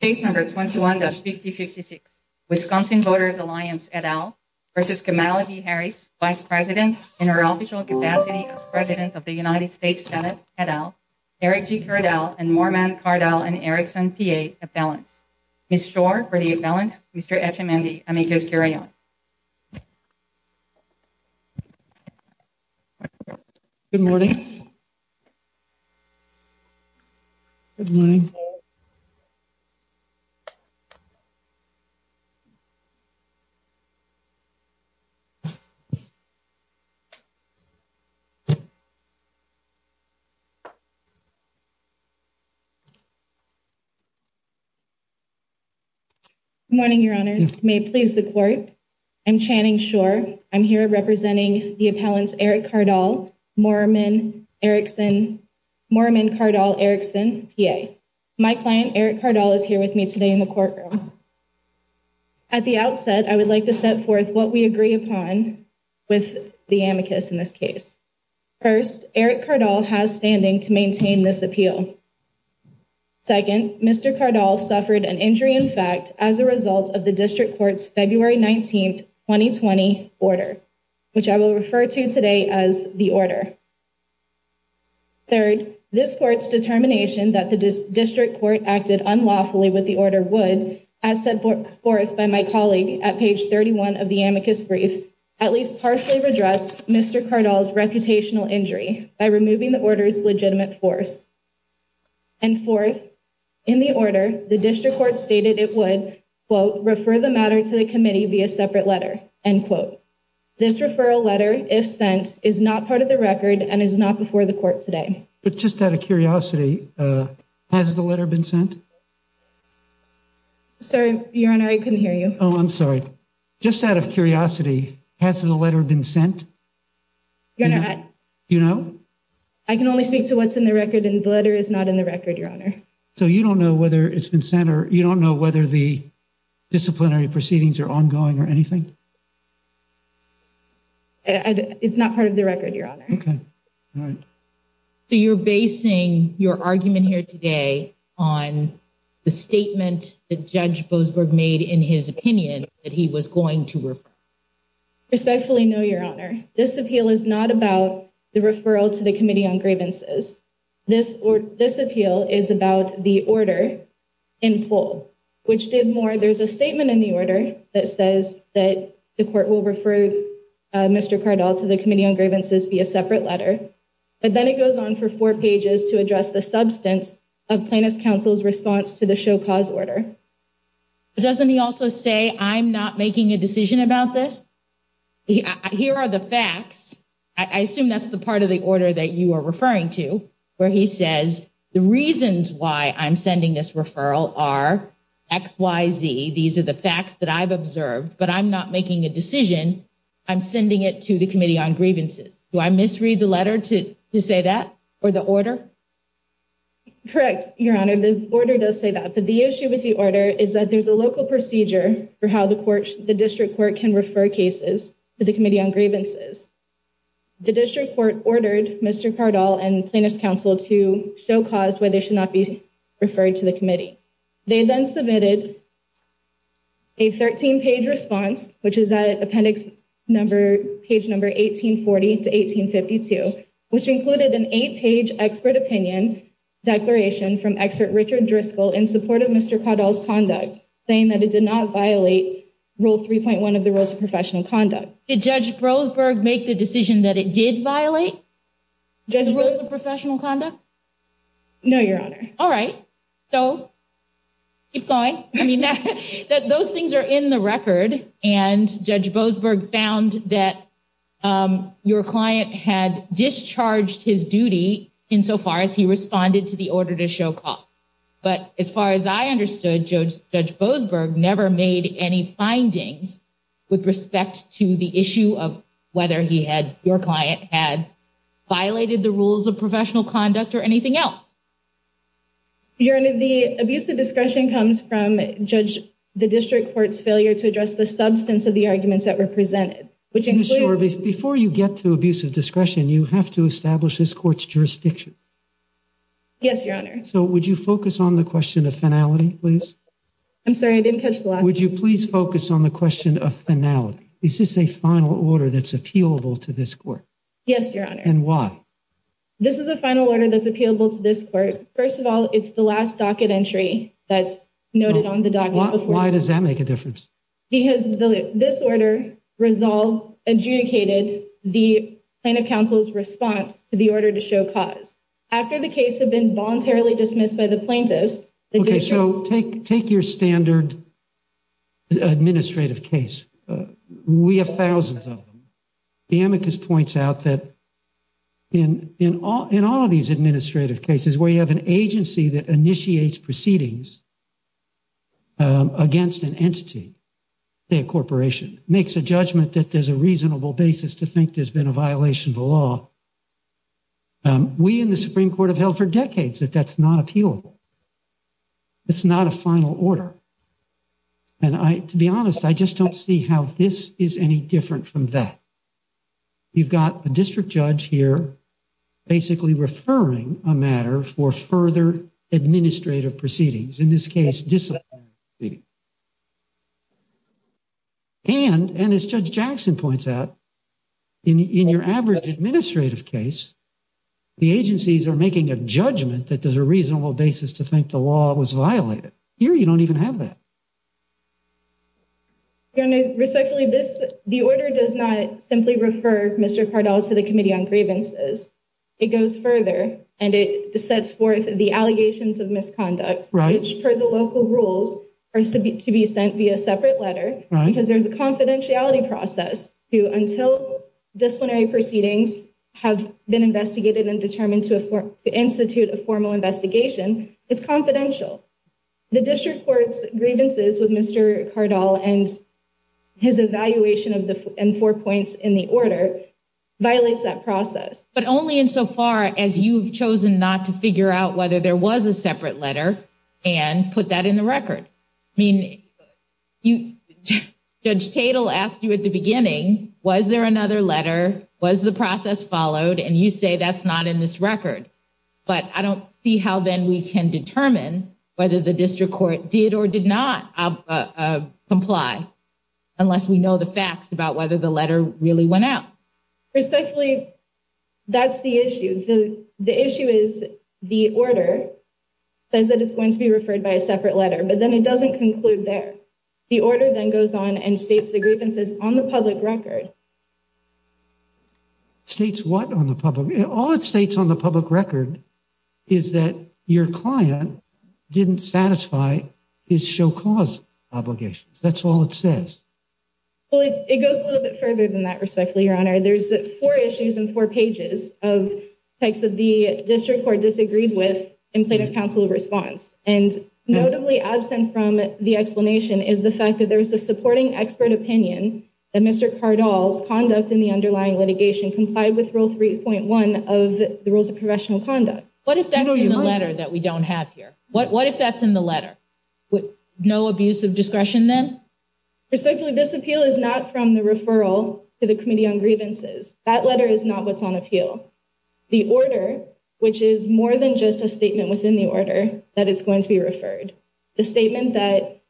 Case number 21-5056, Wisconsin Voters Alliance et al versus Kamala D. Harris, Vice President in her official capacity as President of the United States Senate et al., Eric G. Cardell and Morman Cardell and Erickson P.A. Appellants. Ms. Schor for the Appellant, Mr. Etchemendy, amicus curiae. Good morning. Good morning. Good morning, Your Honors. May it please the Court. I'm Channing Schor. I'm here representing the Appellants, Eric Cardall, Morman, Erickson, Morman Cardall, Erickson, P.A. My client, Erick Cardall, is here with me today in the courtroom. At the outset, I would like to set forth what we agree upon with the amicus in this case. First, Erick Cardall has standing to maintain this appeal. Second, Mr. Cardall suffered an injury, in fact, as a result of the District Court's February 19th, 2020 order, which I will refer to today as the order. Third, this Court's determination that the District Court acted unlawfully with the order would, as set forth by my colleague at page 31 of the amicus brief, at least partially redress Mr. Cardall's reputational injury by removing the order's legitimate force. And fourth, in the order, the District Court stated it would, quote, refer the matter to the committee via separate letter, end quote. This referral letter, if sent, is not part of the record and is not before the Court today. But just out of curiosity, has the letter been sent? Sorry, Your Honor, I couldn't hear you. Oh, I'm sorry. Just out of curiosity, has the letter been sent? Your Honor, I can only speak to what's in the record and the letter is not in the record, Your Honor. So you don't know whether it's been sent or you don't know whether the disciplinary proceedings are ongoing or anything? It's not part of the record, Your Honor. Okay. All right. So you're basing your argument here today on the statement that Judge Boasberg made in his opinion that he was going to refer? Respectfully, no, Your Honor. This appeal is not about the referral to the Committee on Gravenses. This appeal is about the order in full, which did more. There's a statement in the order that says that the Court will refer Mr. Cardall to the Committee on Gravenses via separate letter. But then it goes on for four pages to address the substance of Plaintiff's Counsel's response to the show cause order. Doesn't he also say, I'm not making a decision about this? Here are the facts. I assume that's the part of the order that you are referring to where he says the reasons why I'm sending this referral are X, Y, Z. These are the facts that I've observed, but I'm not making a decision. I'm sending it to the Committee on Gravenses. Do I misread the letter to say that or the order? Correct, Your Honor. The order does say that, but the issue with the order is that there's a local procedure for how the District Court can refer cases to the Committee on Gravenses. The District Court ordered Mr. Cardall and Plaintiff's Counsel to show cause why they should not be referred to the Committee. They then submitted a 13-page response, which is at appendix number, page number 1840 to 1852, which included an eight-page expert opinion declaration from expert Richard Driscoll in support of Mr. Cardall's conduct, saying that it did not violate Rule 3.1 of the Rules of Professional Conduct. Did Judge Boasberg make the decision that it did violate the Rules of Professional Conduct? No, Your Honor. All right, so keep going. I mean, those things are in the record, and Judge Boasberg found that your client had discharged his duty insofar as he responded to the order to show cause. But as far as I understood, Judge Boasberg never made any findings with respect to the issue of whether he had, your client, had violated the Rules of Professional Conduct or anything else. Your Honor, the abuse of discretion comes from Judge, the District Court's failure to address the substance of the arguments that were presented, which include... Before you get to abuse of discretion, you have to establish this Court's jurisdiction. Yes, Your Honor. So would you focus on the question of finality, please? I'm sorry, I didn't catch the last one. Would you please focus on the question of finality? Is this a final order that's appealable to this Court? Yes, Your Honor. And why? This is a final order that's appealable to this Court. First of all, it's the last docket entry that's noted on the docket. Why does that make a difference? Because this order adjudicated the plaintiff counsel's response to the order to show cause. After the case had been voluntarily dismissed by the plaintiffs... Okay, so take your standard administrative case. We have thousands of them. The amicus points out that in all of these administrative cases, where you have an agency that initiates proceedings against an entity, say a corporation, makes a judgment that there's a reasonable basis to think there's been a violation of the law. We in the Supreme Court have held for decades that that's not appealable. It's not a final order. And to be honest, I just don't see how this is any different from that. You've got a district judge here basically referring a matter for further administrative proceedings, in this case disciplinary proceedings. And as Judge Jackson points out, in your average administrative case, the agencies are making a judgment that there's a reasonable basis to think the law was violated. Here, you don't even have that. Respectfully, the order does not simply refer Mr. Cardall to the Committee on Grievances. It goes further, and it sets forth the allegations of misconduct, which, per the local rules, are to be sent via separate letter, because there's a confidentiality process to, until disciplinary proceedings have been investigated and determined to institute a formal investigation, it's confidential. The district court's grievances with Mr. Cardall and his evaluation of the four points in the order violates that process. But only insofar as you've chosen not to figure out whether there was a separate letter and put that in the record. I mean, Judge Tatel asked you at the beginning, was there another letter? Was the process followed? And you say that's not in this record, but I don't see how then we can determine whether the district court did or did not comply, unless we know the facts about whether the letter really went out. Respectfully, that's the issue. The issue is the order says that it's going to be referred by a separate letter, but then it doesn't conclude there. The order then goes on and states the grievances on the public record. States what on the public? All it states on the public record is that your client didn't satisfy his show cause obligations. That's all it says. Well, it goes a little bit further than that respectfully, Your Honor. There's four issues and four pages of text that the district court disagreed with in plaintiff's counsel response and notably absent from the explanation is the fact that there's a supporting expert opinion that Mr. Cardinals conduct in the underlying litigation complied with rule 3.1 of the rules of professional conduct. What if that letter that we don't have here? What if that's in the letter with no abuse of discretion? Then respectfully, this appeal is not from the referral to the committee on grievances. That letter is not what's on appeal the order, which is more than just a statement within the order that it's going to be referred the statement that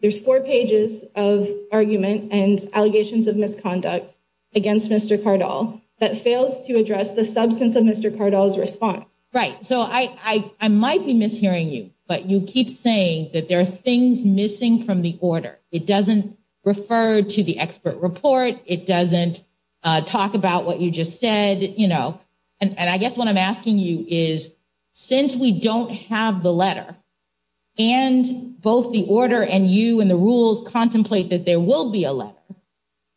there's four pages of argument and allegations of misconduct against Mr. Cardinal that fails to address the substance of Mr. Cardinals response, right? So I might be mishearing you but you keep saying that there are things missing from the order. It doesn't refer to the expert report. It doesn't talk about what you just said, you know, and I guess what I'm asking you is since we don't have the letter and both the order and you and the rules contemplate that there will be a letter.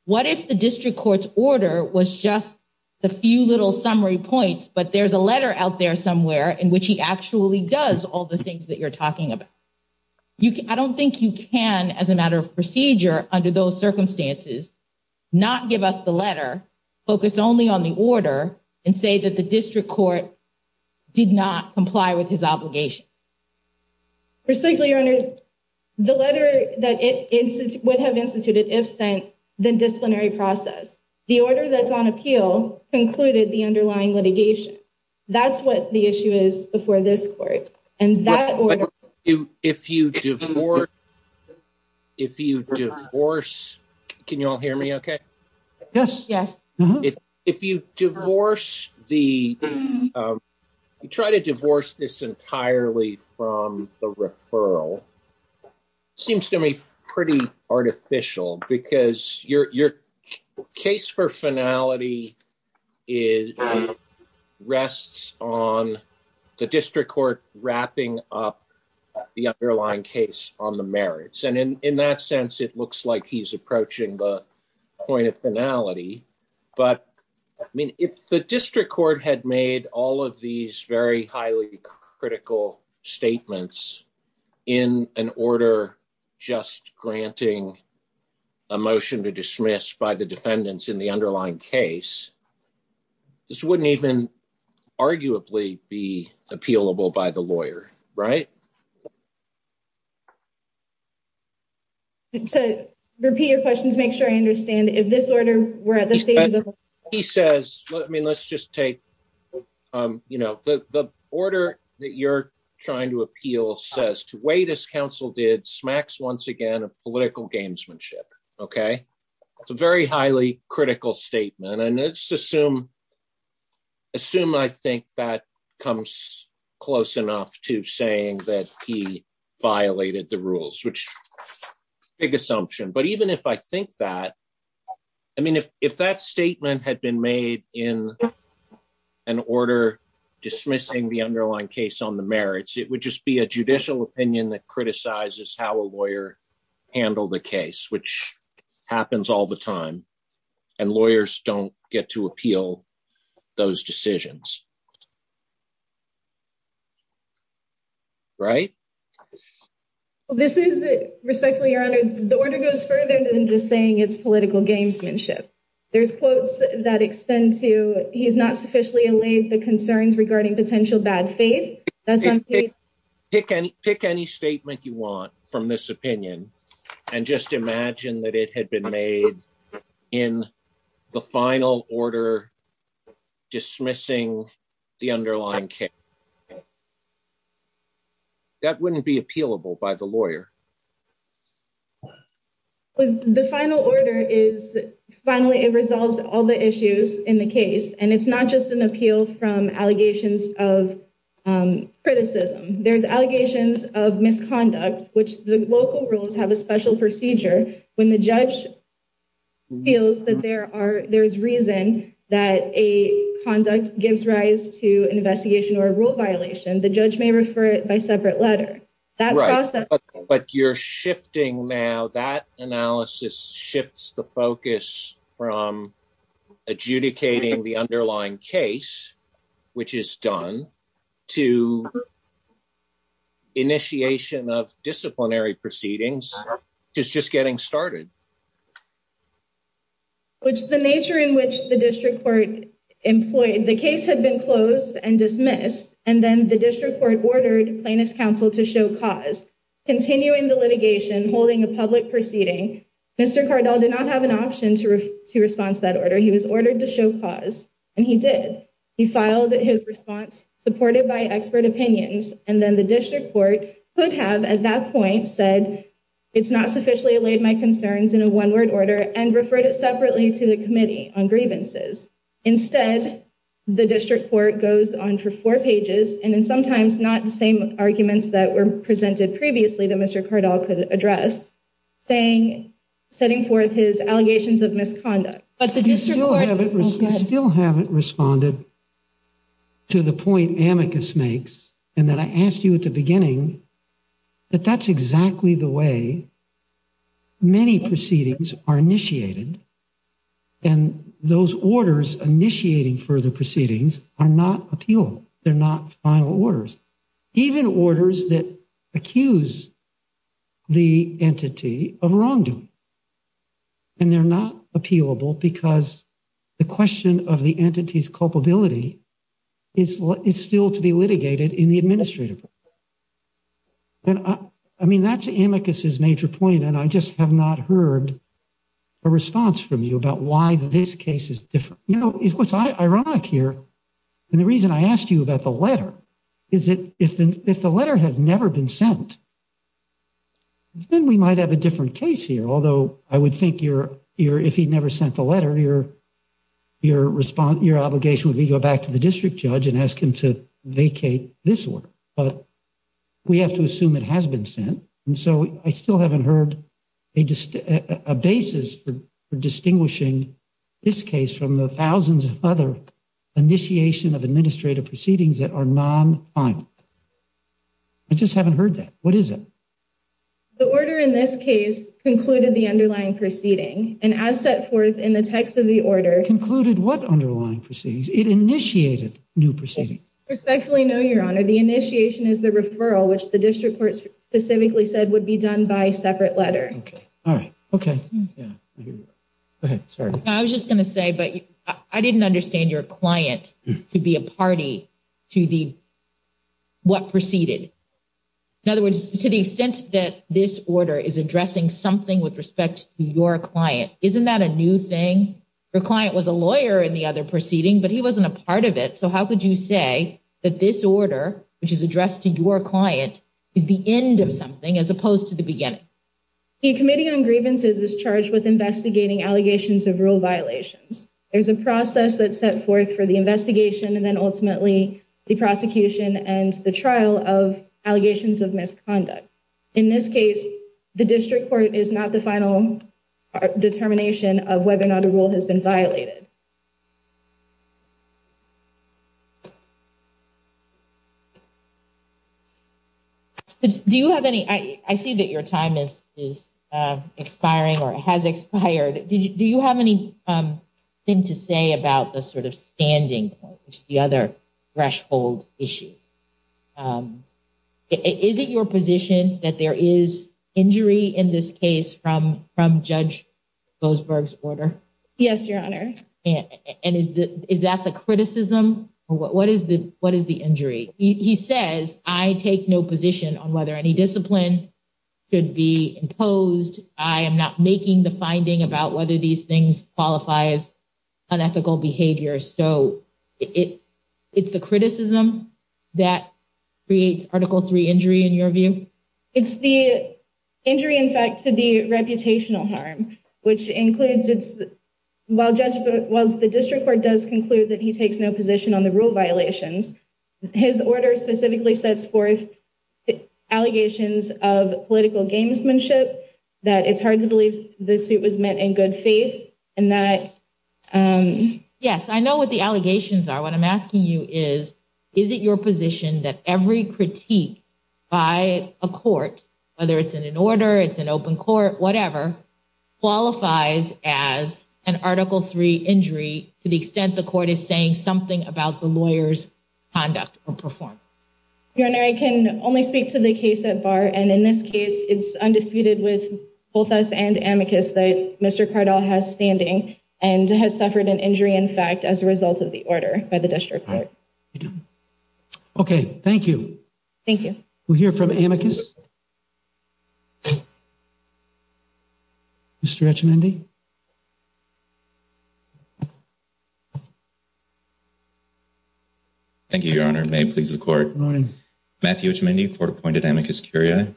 What if the district court's order was just the few little summary points, but there's a letter out there somewhere in which he actually does all the things that you're talking about. I don't think you can as a matter of procedure under those circumstances not give us the letter focus only on the order and say that the district court did not comply with his obligation. Respectfully, your honor, the letter that it would have instituted if sent the disciplinary process, the order that's on appeal concluded the underlying litigation. That's what the issue is before this court and that if you do. If you do force, can you all hear me? Okay. Yes, yes, if you divorce the. You try to divorce this entirely from the referral. Seems to me pretty artificial because your, your case for finality. Is rests on. The district court wrapping up the underlying case on the merits and in that sense, it looks like he's approaching the. Point of finality, but I mean, if the district court had made all of these very highly critical statements. In an order, just granting. A motion to dismiss by the defendants in the underlying case. This wouldn't even arguably be appealable by the lawyer, right? So, repeat your questions, make sure I understand if this order, we're at the stage. He says, I mean, let's just take the order that you're trying to appeal says to wait as counsel did smacks once again, a political gamesmanship. Okay. It's a very highly critical statement and it's assume. Assume, I think that comes close enough to saying that he violated the rules, which is a big assumption. But even if I think that, I mean, if that statement had been made in an order dismissing the underlying case on the merits, it would just be a judicial opinion that criticizes how a lawyer handled the case, which happens all the time and lawyers don't get to appeal those decisions. Right, well, this is respectfully your honor, the order goes further than just saying it's political gamesmanship. There's quotes that extend to he's not sufficiently allayed the concerns regarding potential bad faith. That's pick any, pick any statement you want from this opinion and just imagine that it had been made in the final order dismissing the underlying case. That wouldn't be appealable by the lawyer. The final order is finally it resolves all the issues in the case and it's not just an appeal from allegations of criticism. There's allegations of misconduct, which the local rules have a special procedure when the judge. Feels that there are there's reason that a conduct gives rise to an investigation or rule violation. The judge may refer it by separate letter. That process, but you're shifting now that analysis shifts the focus from adjudicating the underlying case, which is done to. Initiation of disciplinary proceedings is just getting started. Which the nature in which the district court employed, the case had been closed and dismissed and then the district court ordered plaintiff's counsel to show cause continuing the litigation, holding a public proceeding. Mr. Cardinal did not have an option to to response that order. He was ordered to show cause and he did he filed his response supported by expert opinions and then the district court would have at that point said it's not sufficiently allayed my concerns. In a 1 word order and referred it separately to the committee on grievances. Instead, the district court goes on for 4 pages and then sometimes not the same arguments that were presented previously that Mr. Cardinal could address saying, setting forth his allegations of misconduct, but the district still haven't responded. To the point amicus makes and that I asked you at the beginning. But that's exactly the way many proceedings are initiated. And those orders initiating for the proceedings are not appeal. They're not final orders. Even orders that accuse the entity of wrongdoing. And they're not appealable because. The question of the entities culpability is still to be litigated in the administrative. And, I mean, that's his major point and I just have not heard. A response from you about why this case is different. You know, it was ironic here. And the reason I asked you about the letter, is it if the, if the letter had never been sent. Then we might have a different case here. Although I would think you're here if he never sent the letter here. Your response, your obligation would be go back to the district judge and ask him to vacate this work, but. We have to assume it has been sent and so I still haven't heard. A, just a basis for distinguishing. This case from the thousands of other initiation of administrative proceedings that are non. I just haven't heard that. What is it the order in this case concluded the underlying proceeding and as set forth in the text of the. Concluded what underlying proceedings it initiated new proceeding respectfully. No, your honor. The initiation is the referral, which the district court specifically said would be done by a separate letter. Okay. All right. Okay. Yeah. Okay, sorry, I was just going to say, but I didn't understand your client to be a party to the. What proceeded in other words, to the extent that this order is addressing something with respect to your client. Isn't that a new thing? The client was a lawyer in the other proceeding, but he wasn't a part of it. So how could you say that this order, which is addressed to your client is the end of something as opposed to the beginning. The committee on grievances is charged with investigating allegations of rule violations. There's a process that set forth for the investigation and then ultimately the prosecution and the trial of allegations of misconduct. In this case, the district court is not the final determination of whether or not a rule has been violated. Do you have any I see that your time is is expiring or has expired? Do you have any thing to say about the sort of standing? Which is the other threshold issue. Is it your position that there is injury in this case from from judge? Those birds order yes, your honor and is that the criticism? What is the, what is the injury? He says I take no position on whether any discipline. Could be imposed I am not making the finding about whether these things qualify as. Unethical behavior, so it, it's the criticism that reads article three injury in your view. It's the injury. In fact, to the reputational harm, which includes it's while judgment was the district court does conclude that he takes no position on the rule violations. His order specifically sets forth allegations of political gamesmanship that it's hard to believe the suit was met in good faith and that. Yes, I know what the allegations are what I'm asking you is, is it your position that every critique by a court, whether it's in an order, it's an open court, whatever qualifies as an article three injury to the extent the court is saying something about the lawyers. Conduct or perform your and I can only speak to the case at bar and in this case, it's undisputed with both us and amicus that Mr. Cardinal has standing and has suffered an injury. In fact, as a result of the order by the district court. Okay, thank you. Thank you. We'll hear from amicus. Mr. Thank you, your honor may please the court Matthew, which many court appointed amicus curia.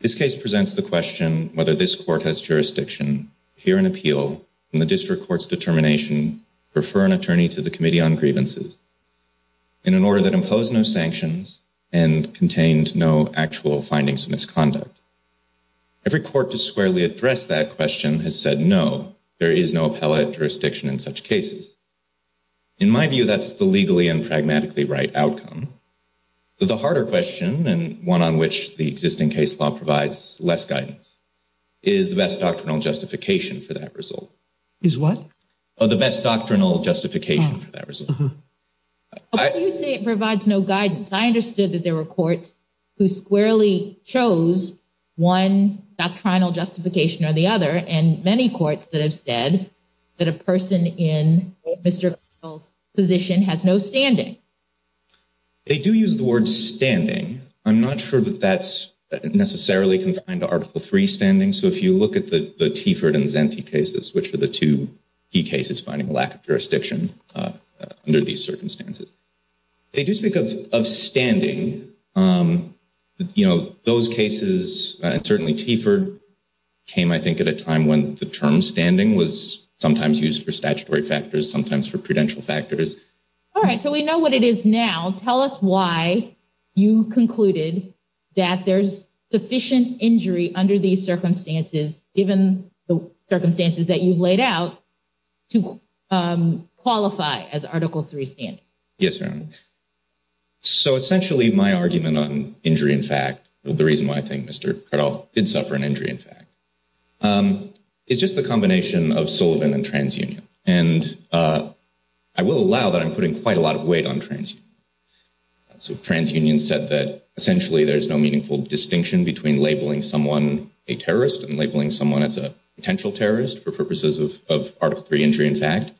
This case presents the question, whether this court has jurisdiction here in appeal and the district courts determination, refer an attorney to the committee on grievances. In an order that impose no sanctions and contained no actual findings, misconduct every court to squarely address that question has said, no, there is no appellate jurisdiction in such cases in my view, that's the legally and pragmatically right outcome. The harder question and one on which the existing case law provides less guidance. Is the best doctrinal justification for that result is what the best doctrinal justification for that result. You say it provides no guidance. I understood that there were courts. Who squarely chose 1 doctrinal justification or the other and many courts that have said that a person in Mr. position has no standing. They do use the word standing. I'm not sure that that's necessarily can find article 3 standing. So, if you look at the, the Tiford and Zenty cases, which are the 2 key cases, finding lack of jurisdiction under these circumstances. They do speak of standing, you know, those cases and certainly T for. Came, I think, at a time when the term standing was sometimes used for statutory factors, sometimes for credential factors. All right, so we know what it is now. Tell us why you concluded that there's sufficient injury under these circumstances, given the circumstances that you've laid out to qualify as article 3 stand. Yes, sir. So, essentially, my argument on injury, in fact, the reason why I think Mr did suffer an injury. In fact, it's just the combination of Sullivan and transunion and. I will allow that I'm putting quite a lot of weight on trans. So, transunion said that essentially there's no meaningful distinction between labeling someone a terrorist and labeling someone as a potential terrorist for purposes of of article 3 injury. In fact.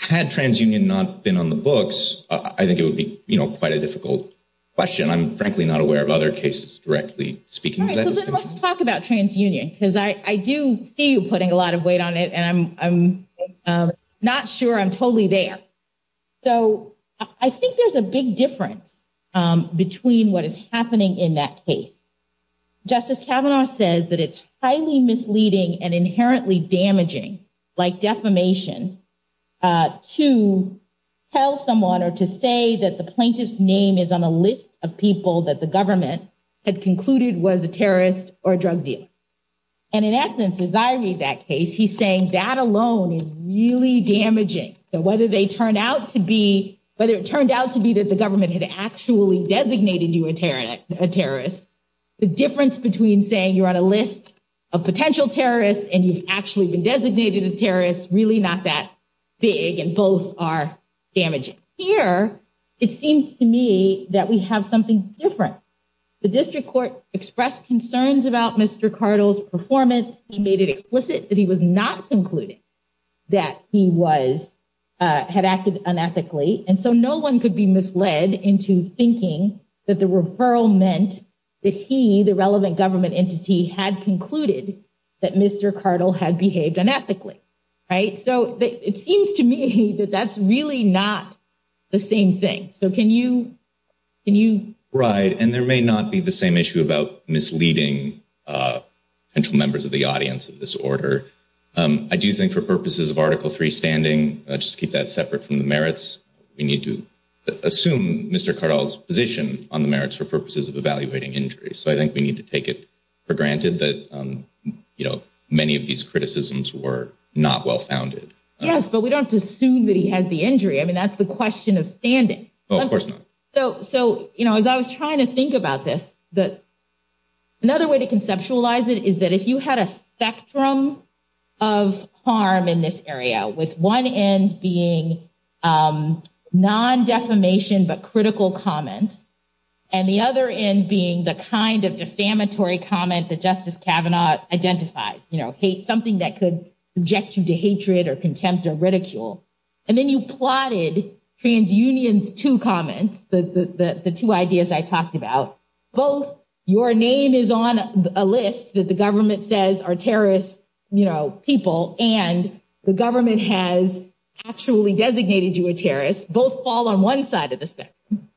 Had transunion not been on the books, I think it would be quite a difficult. Question I'm frankly not aware of other cases directly speaking. Let's talk about transunion because I, I do see you putting a lot of weight on it and I'm not sure I'm totally there. So, I think there's a big difference between what is happening in that case. Justice says that it's highly misleading and inherently damaging, like, defamation to tell someone or to say that the plaintiff's name is on a list of people that the government had concluded was a terrorist or drug deal. And in essence, as I read that case, he's saying that alone is really damaging. So, whether they turned out to be whether it turned out to be that the government had actually designated you a terrorist. The difference between saying, you're on a list of potential terrorist and you've actually been designated a terrorist really not that big and both are damaging here. It seems to me that we have something different. The district court expressed concerns about Mr. Cardinals performance. He made it explicit that he was not concluding. That he was had acted unethically and so no one could be misled into thinking that the referral meant that he, the relevant government entity had concluded that Mr. Cardinal had behaved unethically. Right? So, it seems to me that that's really not the same thing. So, can you, can you right? And there may not be the same issue about misleading. Central members of the audience of this order, I do think for purposes of article 3 standing, just keep that separate from the merits. We need to assume Mr Carl's position on the merits for purposes of evaluating injuries. So, I think we need to take it for granted that, you know, many of these criticisms were not well founded. Yes, but we don't assume that he has the injury. I mean, that's the question of standing. Well, of course not. So, so, you know, as I was trying to think about this, that another way to conceptualize it, is that if you had a spectrum of harm in this area with 1 end being non defamation, but critical comments. And the other end being the kind of defamatory comment that justice cabinet identify hate something that could object to hatred or contempt or ridicule. And then you plotted trans unions to comments that the 2 ideas I talked about both your name is on a list that the government says are terrorist people and the government has actually designated you a terrorist both fall on 1 side of the spectrum.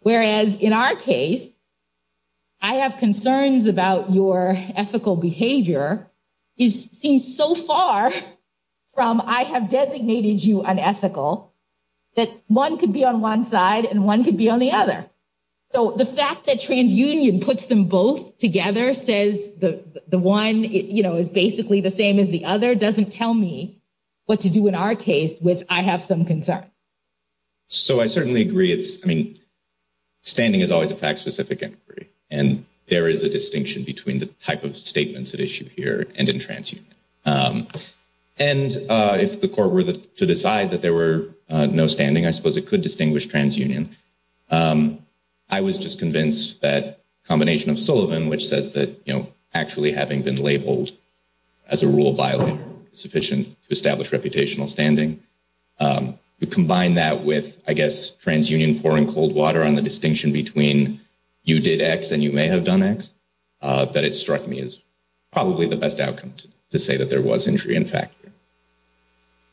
Whereas, in our case, I have concerns about your ethical behavior is seen so far from I have designated you unethical that 1 could be on 1 side and 1 could be on the other. So, the fact that trans union puts them both together says the 1 is basically the same as the other doesn't tell me what to do in our case with. I have some concern. So, I certainly agree it's, I mean, standing is always a fact specific and there is a distinction between the type of statements that issue here and in trans. And if the court were to decide that there were no standing, I suppose it could distinguish trans union. I was just convinced that combination of Sullivan, which says that, you know, actually having been labeled. As a rule violent sufficient to establish reputational standing. To combine that with, I guess, trans union pouring cold water on the distinction between. You did X, and you may have done X that it struck me as. Probably the best outcome to say that there was injury. In fact,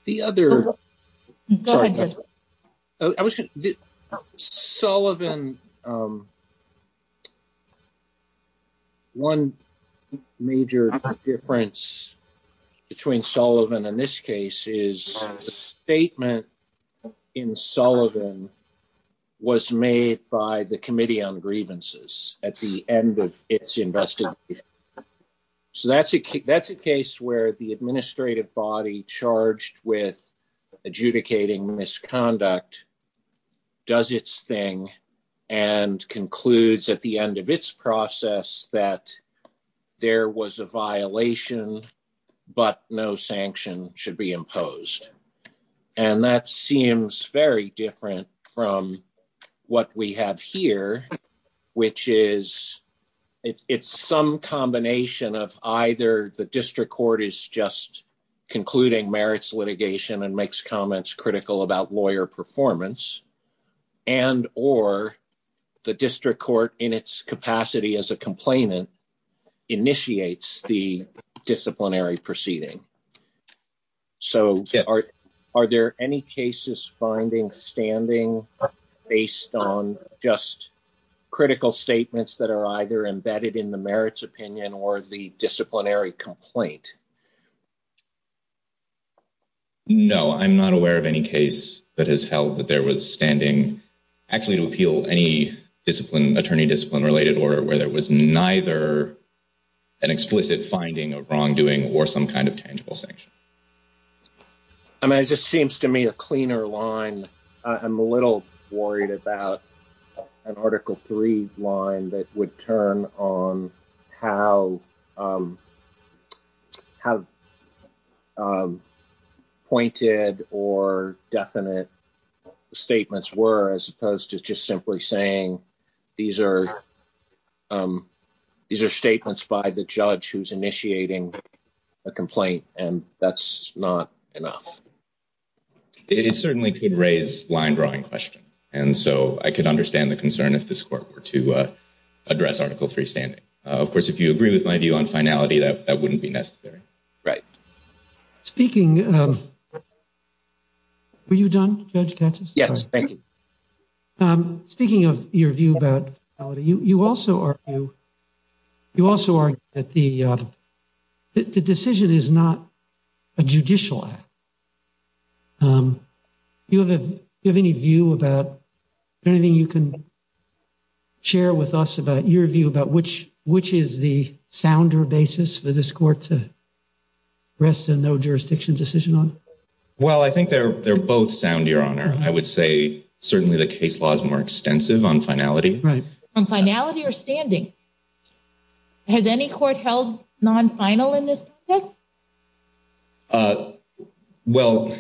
the other. I was Sullivan. 1, major difference. Between Sullivan and this case is the statement. In Sullivan was made by the committee on grievances at the end of it's invested. So, that's a, that's a case where the administrative body charged with. Adjudicating misconduct does its thing. And concludes at the end of its process that. There was a violation, but no sanction should be imposed. And that seems very different from what we have here. Which is it's some combination of either the district court is just. Concluding merits litigation and makes comments critical about lawyer performance. And, or the district court in its capacity as a complainant. Initiates the disciplinary proceeding. So, are there any cases finding standing based on just. Critical statements that are either embedded in the merits opinion, or the disciplinary complaint. No, I'm not aware of any case that has held that there was standing. Actually, to appeal any discipline attorney discipline related order where there was neither. An explicit finding of wrongdoing or some kind of tangible sanction. I mean, it just seems to me a cleaner line. I'm a little worried about an article 3 line that would turn on. How. Have pointed or definite. Statements were, as opposed to just simply saying. These are these are statements by the judge who's initiating. A complaint, and that's not enough. It certainly could raise line drawing questions. And so I could understand the concern if this court were to. Address article 3 standing, of course, if you agree with my view on finality, that that wouldn't be necessary. Right speaking, were you done? Yes, thank you. Speaking of your view about you, you also are. You also are at the decision is not. A judicial, you have any view about anything you can. Share with us about your view about which, which is the sounder basis for this court to. Rest and no jurisdiction decision on well, I think they're, they're both sound your honor. I would say certainly the case laws more extensive on finality, right? Finality or standing. Has any court held non final in this. Well,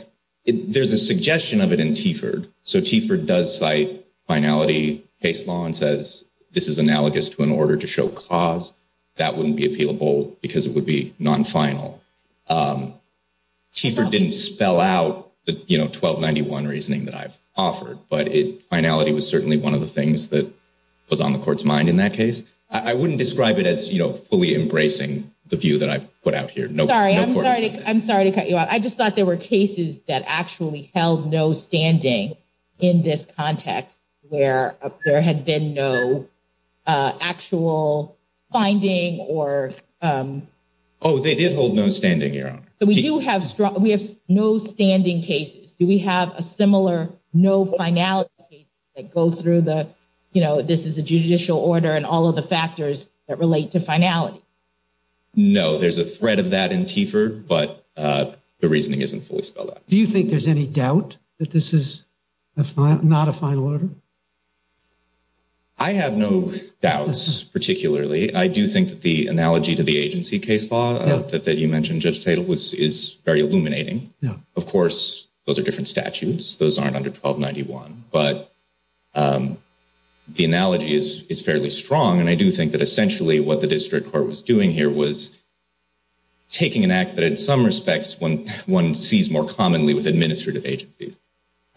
there's a suggestion of it in Tiford. So Tiford does site finality case law and says this is analogous to an order to show cause. That wouldn't be appealable because it would be non final. Tiford didn't spell out the 1291 reasoning that I've offered, but it finality was certainly 1 of the things that. Was on the court's mind in that case, I wouldn't describe it as fully embracing the view that I've put out here. No, sorry. I'm sorry. I'm sorry to cut you off. I just thought there were cases that actually held no standing. In this context, where there had been no. Actual finding or. Oh, they did hold no standing here. So we do have, we have no standing cases. Do we have a similar? No finality that go through the, you know, this is a judicial order and all of the factors that relate to finality. No, there's a thread of that in Tiford, but the reasoning isn't fully spelled out. Do you think there's any doubt that this is not a final order? I have no doubts particularly. I do think that the analogy to the agency case law that you mentioned just title was is very illuminating. Yeah, of course. Those are different statutes. Those aren't under 1291, but. The analogy is, is fairly strong and I do think that essentially what the district court was doing here was. Taking an act that, in some respects, when 1 sees more commonly with administrative agencies.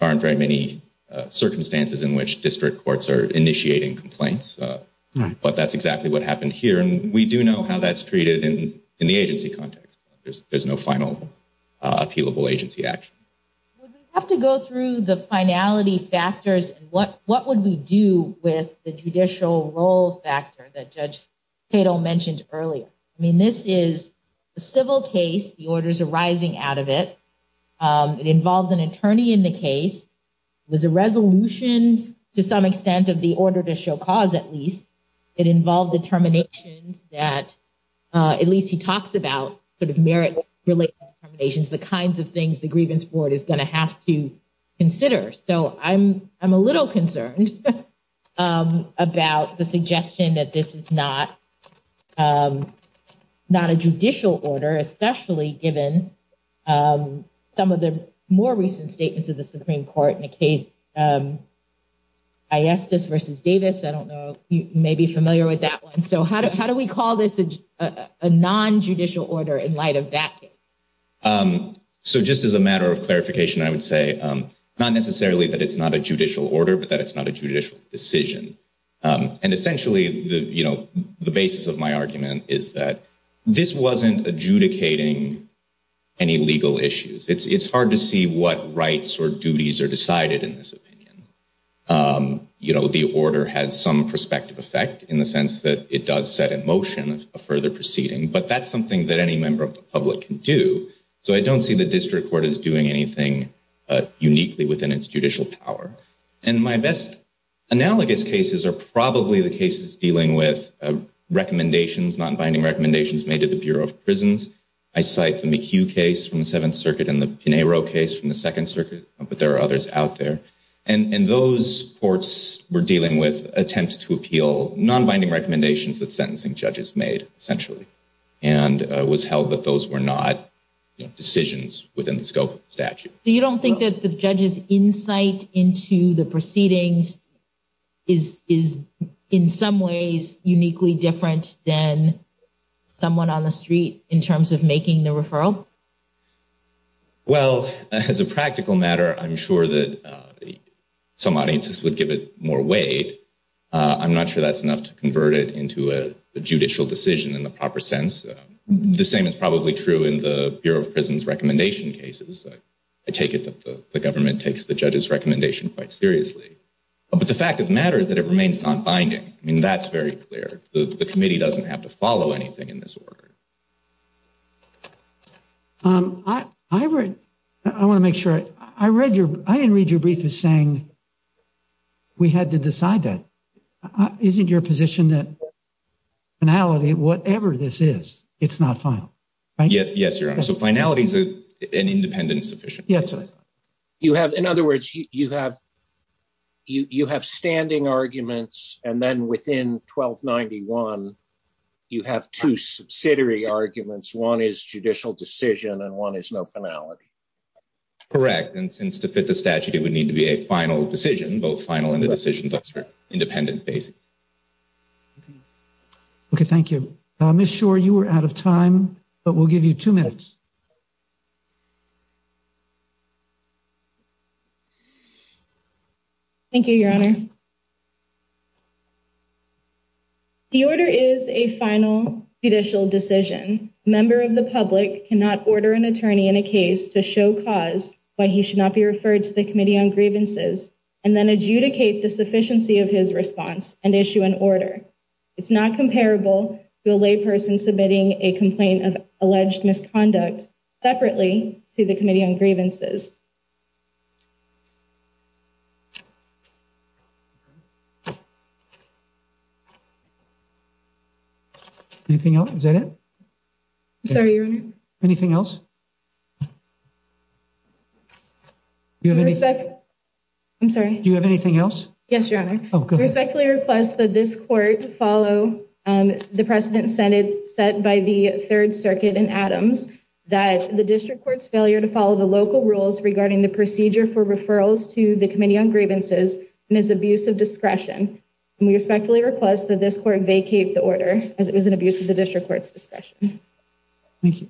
Aren't very many circumstances in which district courts are initiating complaints, but that's exactly what happened here. And we do know how that's treated in the agency context. There's no final. Appealable agency action have to go through the finality factors. What what would we do with the judicial role factor that judge. They don't mentioned earlier I mean, this is a civil case. The orders are rising out of it. Involved an attorney in the case was a resolution to some extent of the order to show cause at least it involved determinations that. Uh, at least he talks about sort of merit relations, the kinds of things the grievance board is going to have to consider. So I'm, I'm a little concerned about the suggestion that this is not. Um, not a judicial order, especially given, um, some of the more recent statements of the Supreme Court in a case. I asked this versus Davis. I don't know. You may be familiar with that 1. so how do how do we call this a non judicial order in light of that? So, just as a matter of clarification, I would say not necessarily that it's not a judicial order, but that it's not a judicial decision. Um, and essentially, the, you know, the basis of my argument is that this wasn't adjudicating any legal issues. It's, it's hard to see what rights or duties are decided in this opinion. Um, you know, the order has some perspective effect in the sense that it does set in motion of further proceeding, but that's something that any member of the public can do. So I don't see the district court is doing anything. Uniquely within its judicial power, and my best analogous cases are probably the cases dealing with recommendations, not binding recommendations made to the Bureau of prisons. I cite the McHugh case from the 7th Circuit and the Pinheiro case from the 2nd Circuit, but there are others out there and those courts were dealing with attempts to appeal non binding recommendations that sentencing judges made essentially and was held that those were not decisions within the scope of the statute. You don't think that the judges insight into the proceedings is, is in some ways uniquely different than someone on the street in terms of making the referral. Well, as a practical matter, I'm sure that some audiences would give it more weight. I'm not sure that's enough to convert it into a judicial decision in the proper sense. The same is probably true in the Bureau of prisons recommendation cases. I take it that the government takes the judges recommendation quite seriously, but the fact of the matter is that it remains on binding. I mean, that's very clear. The committee doesn't have to follow anything in this order. I, I read, I want to make sure I read your I didn't read your brief is saying. We had to decide that isn't your position that. Finality, whatever this is, it's not final. Yes, your honor. So finality is an independent sufficient. Yes, you have. In other words, you have. You have standing arguments, and then within 1291. You have 2 subsidiary arguments. 1 is judicial decision and 1 is no finality. Correct and since to fit the statute, it would need to be a final decision, both final and the decisions are independent basic. Okay, thank you. I'm not sure you were out of time, but we'll give you 2 minutes. Thank you, your honor the order is a final judicial decision member of the public cannot order an attorney in a case to show cause why he should not be referred to the committee on grievances and then adjudicate the sufficiency of his response. And issue an order, it's not comparable to a lay person submitting a complaint of alleged misconduct separately to the committee on grievances. Anything else is that it I'm sorry anything else. Do you have any I'm sorry do you have anything else? Yes, your honor respectfully request that this court to follow the precedent Senate set by the 3rd circuit and Adams that the district court's failure to follow the local rules regarding the procedure for referrals to the committee on grievances and is abuse of discretion and we respectfully request that this court vacate the order as it was an abuse of the district court's discretion. Thank you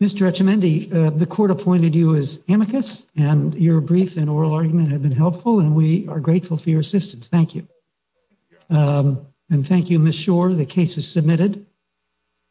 Mr. the court appointed you as amicus and your brief and oral argument have been helpful and we are grateful for your assistance. Thank you and thank you. Miss sure the case is submitted.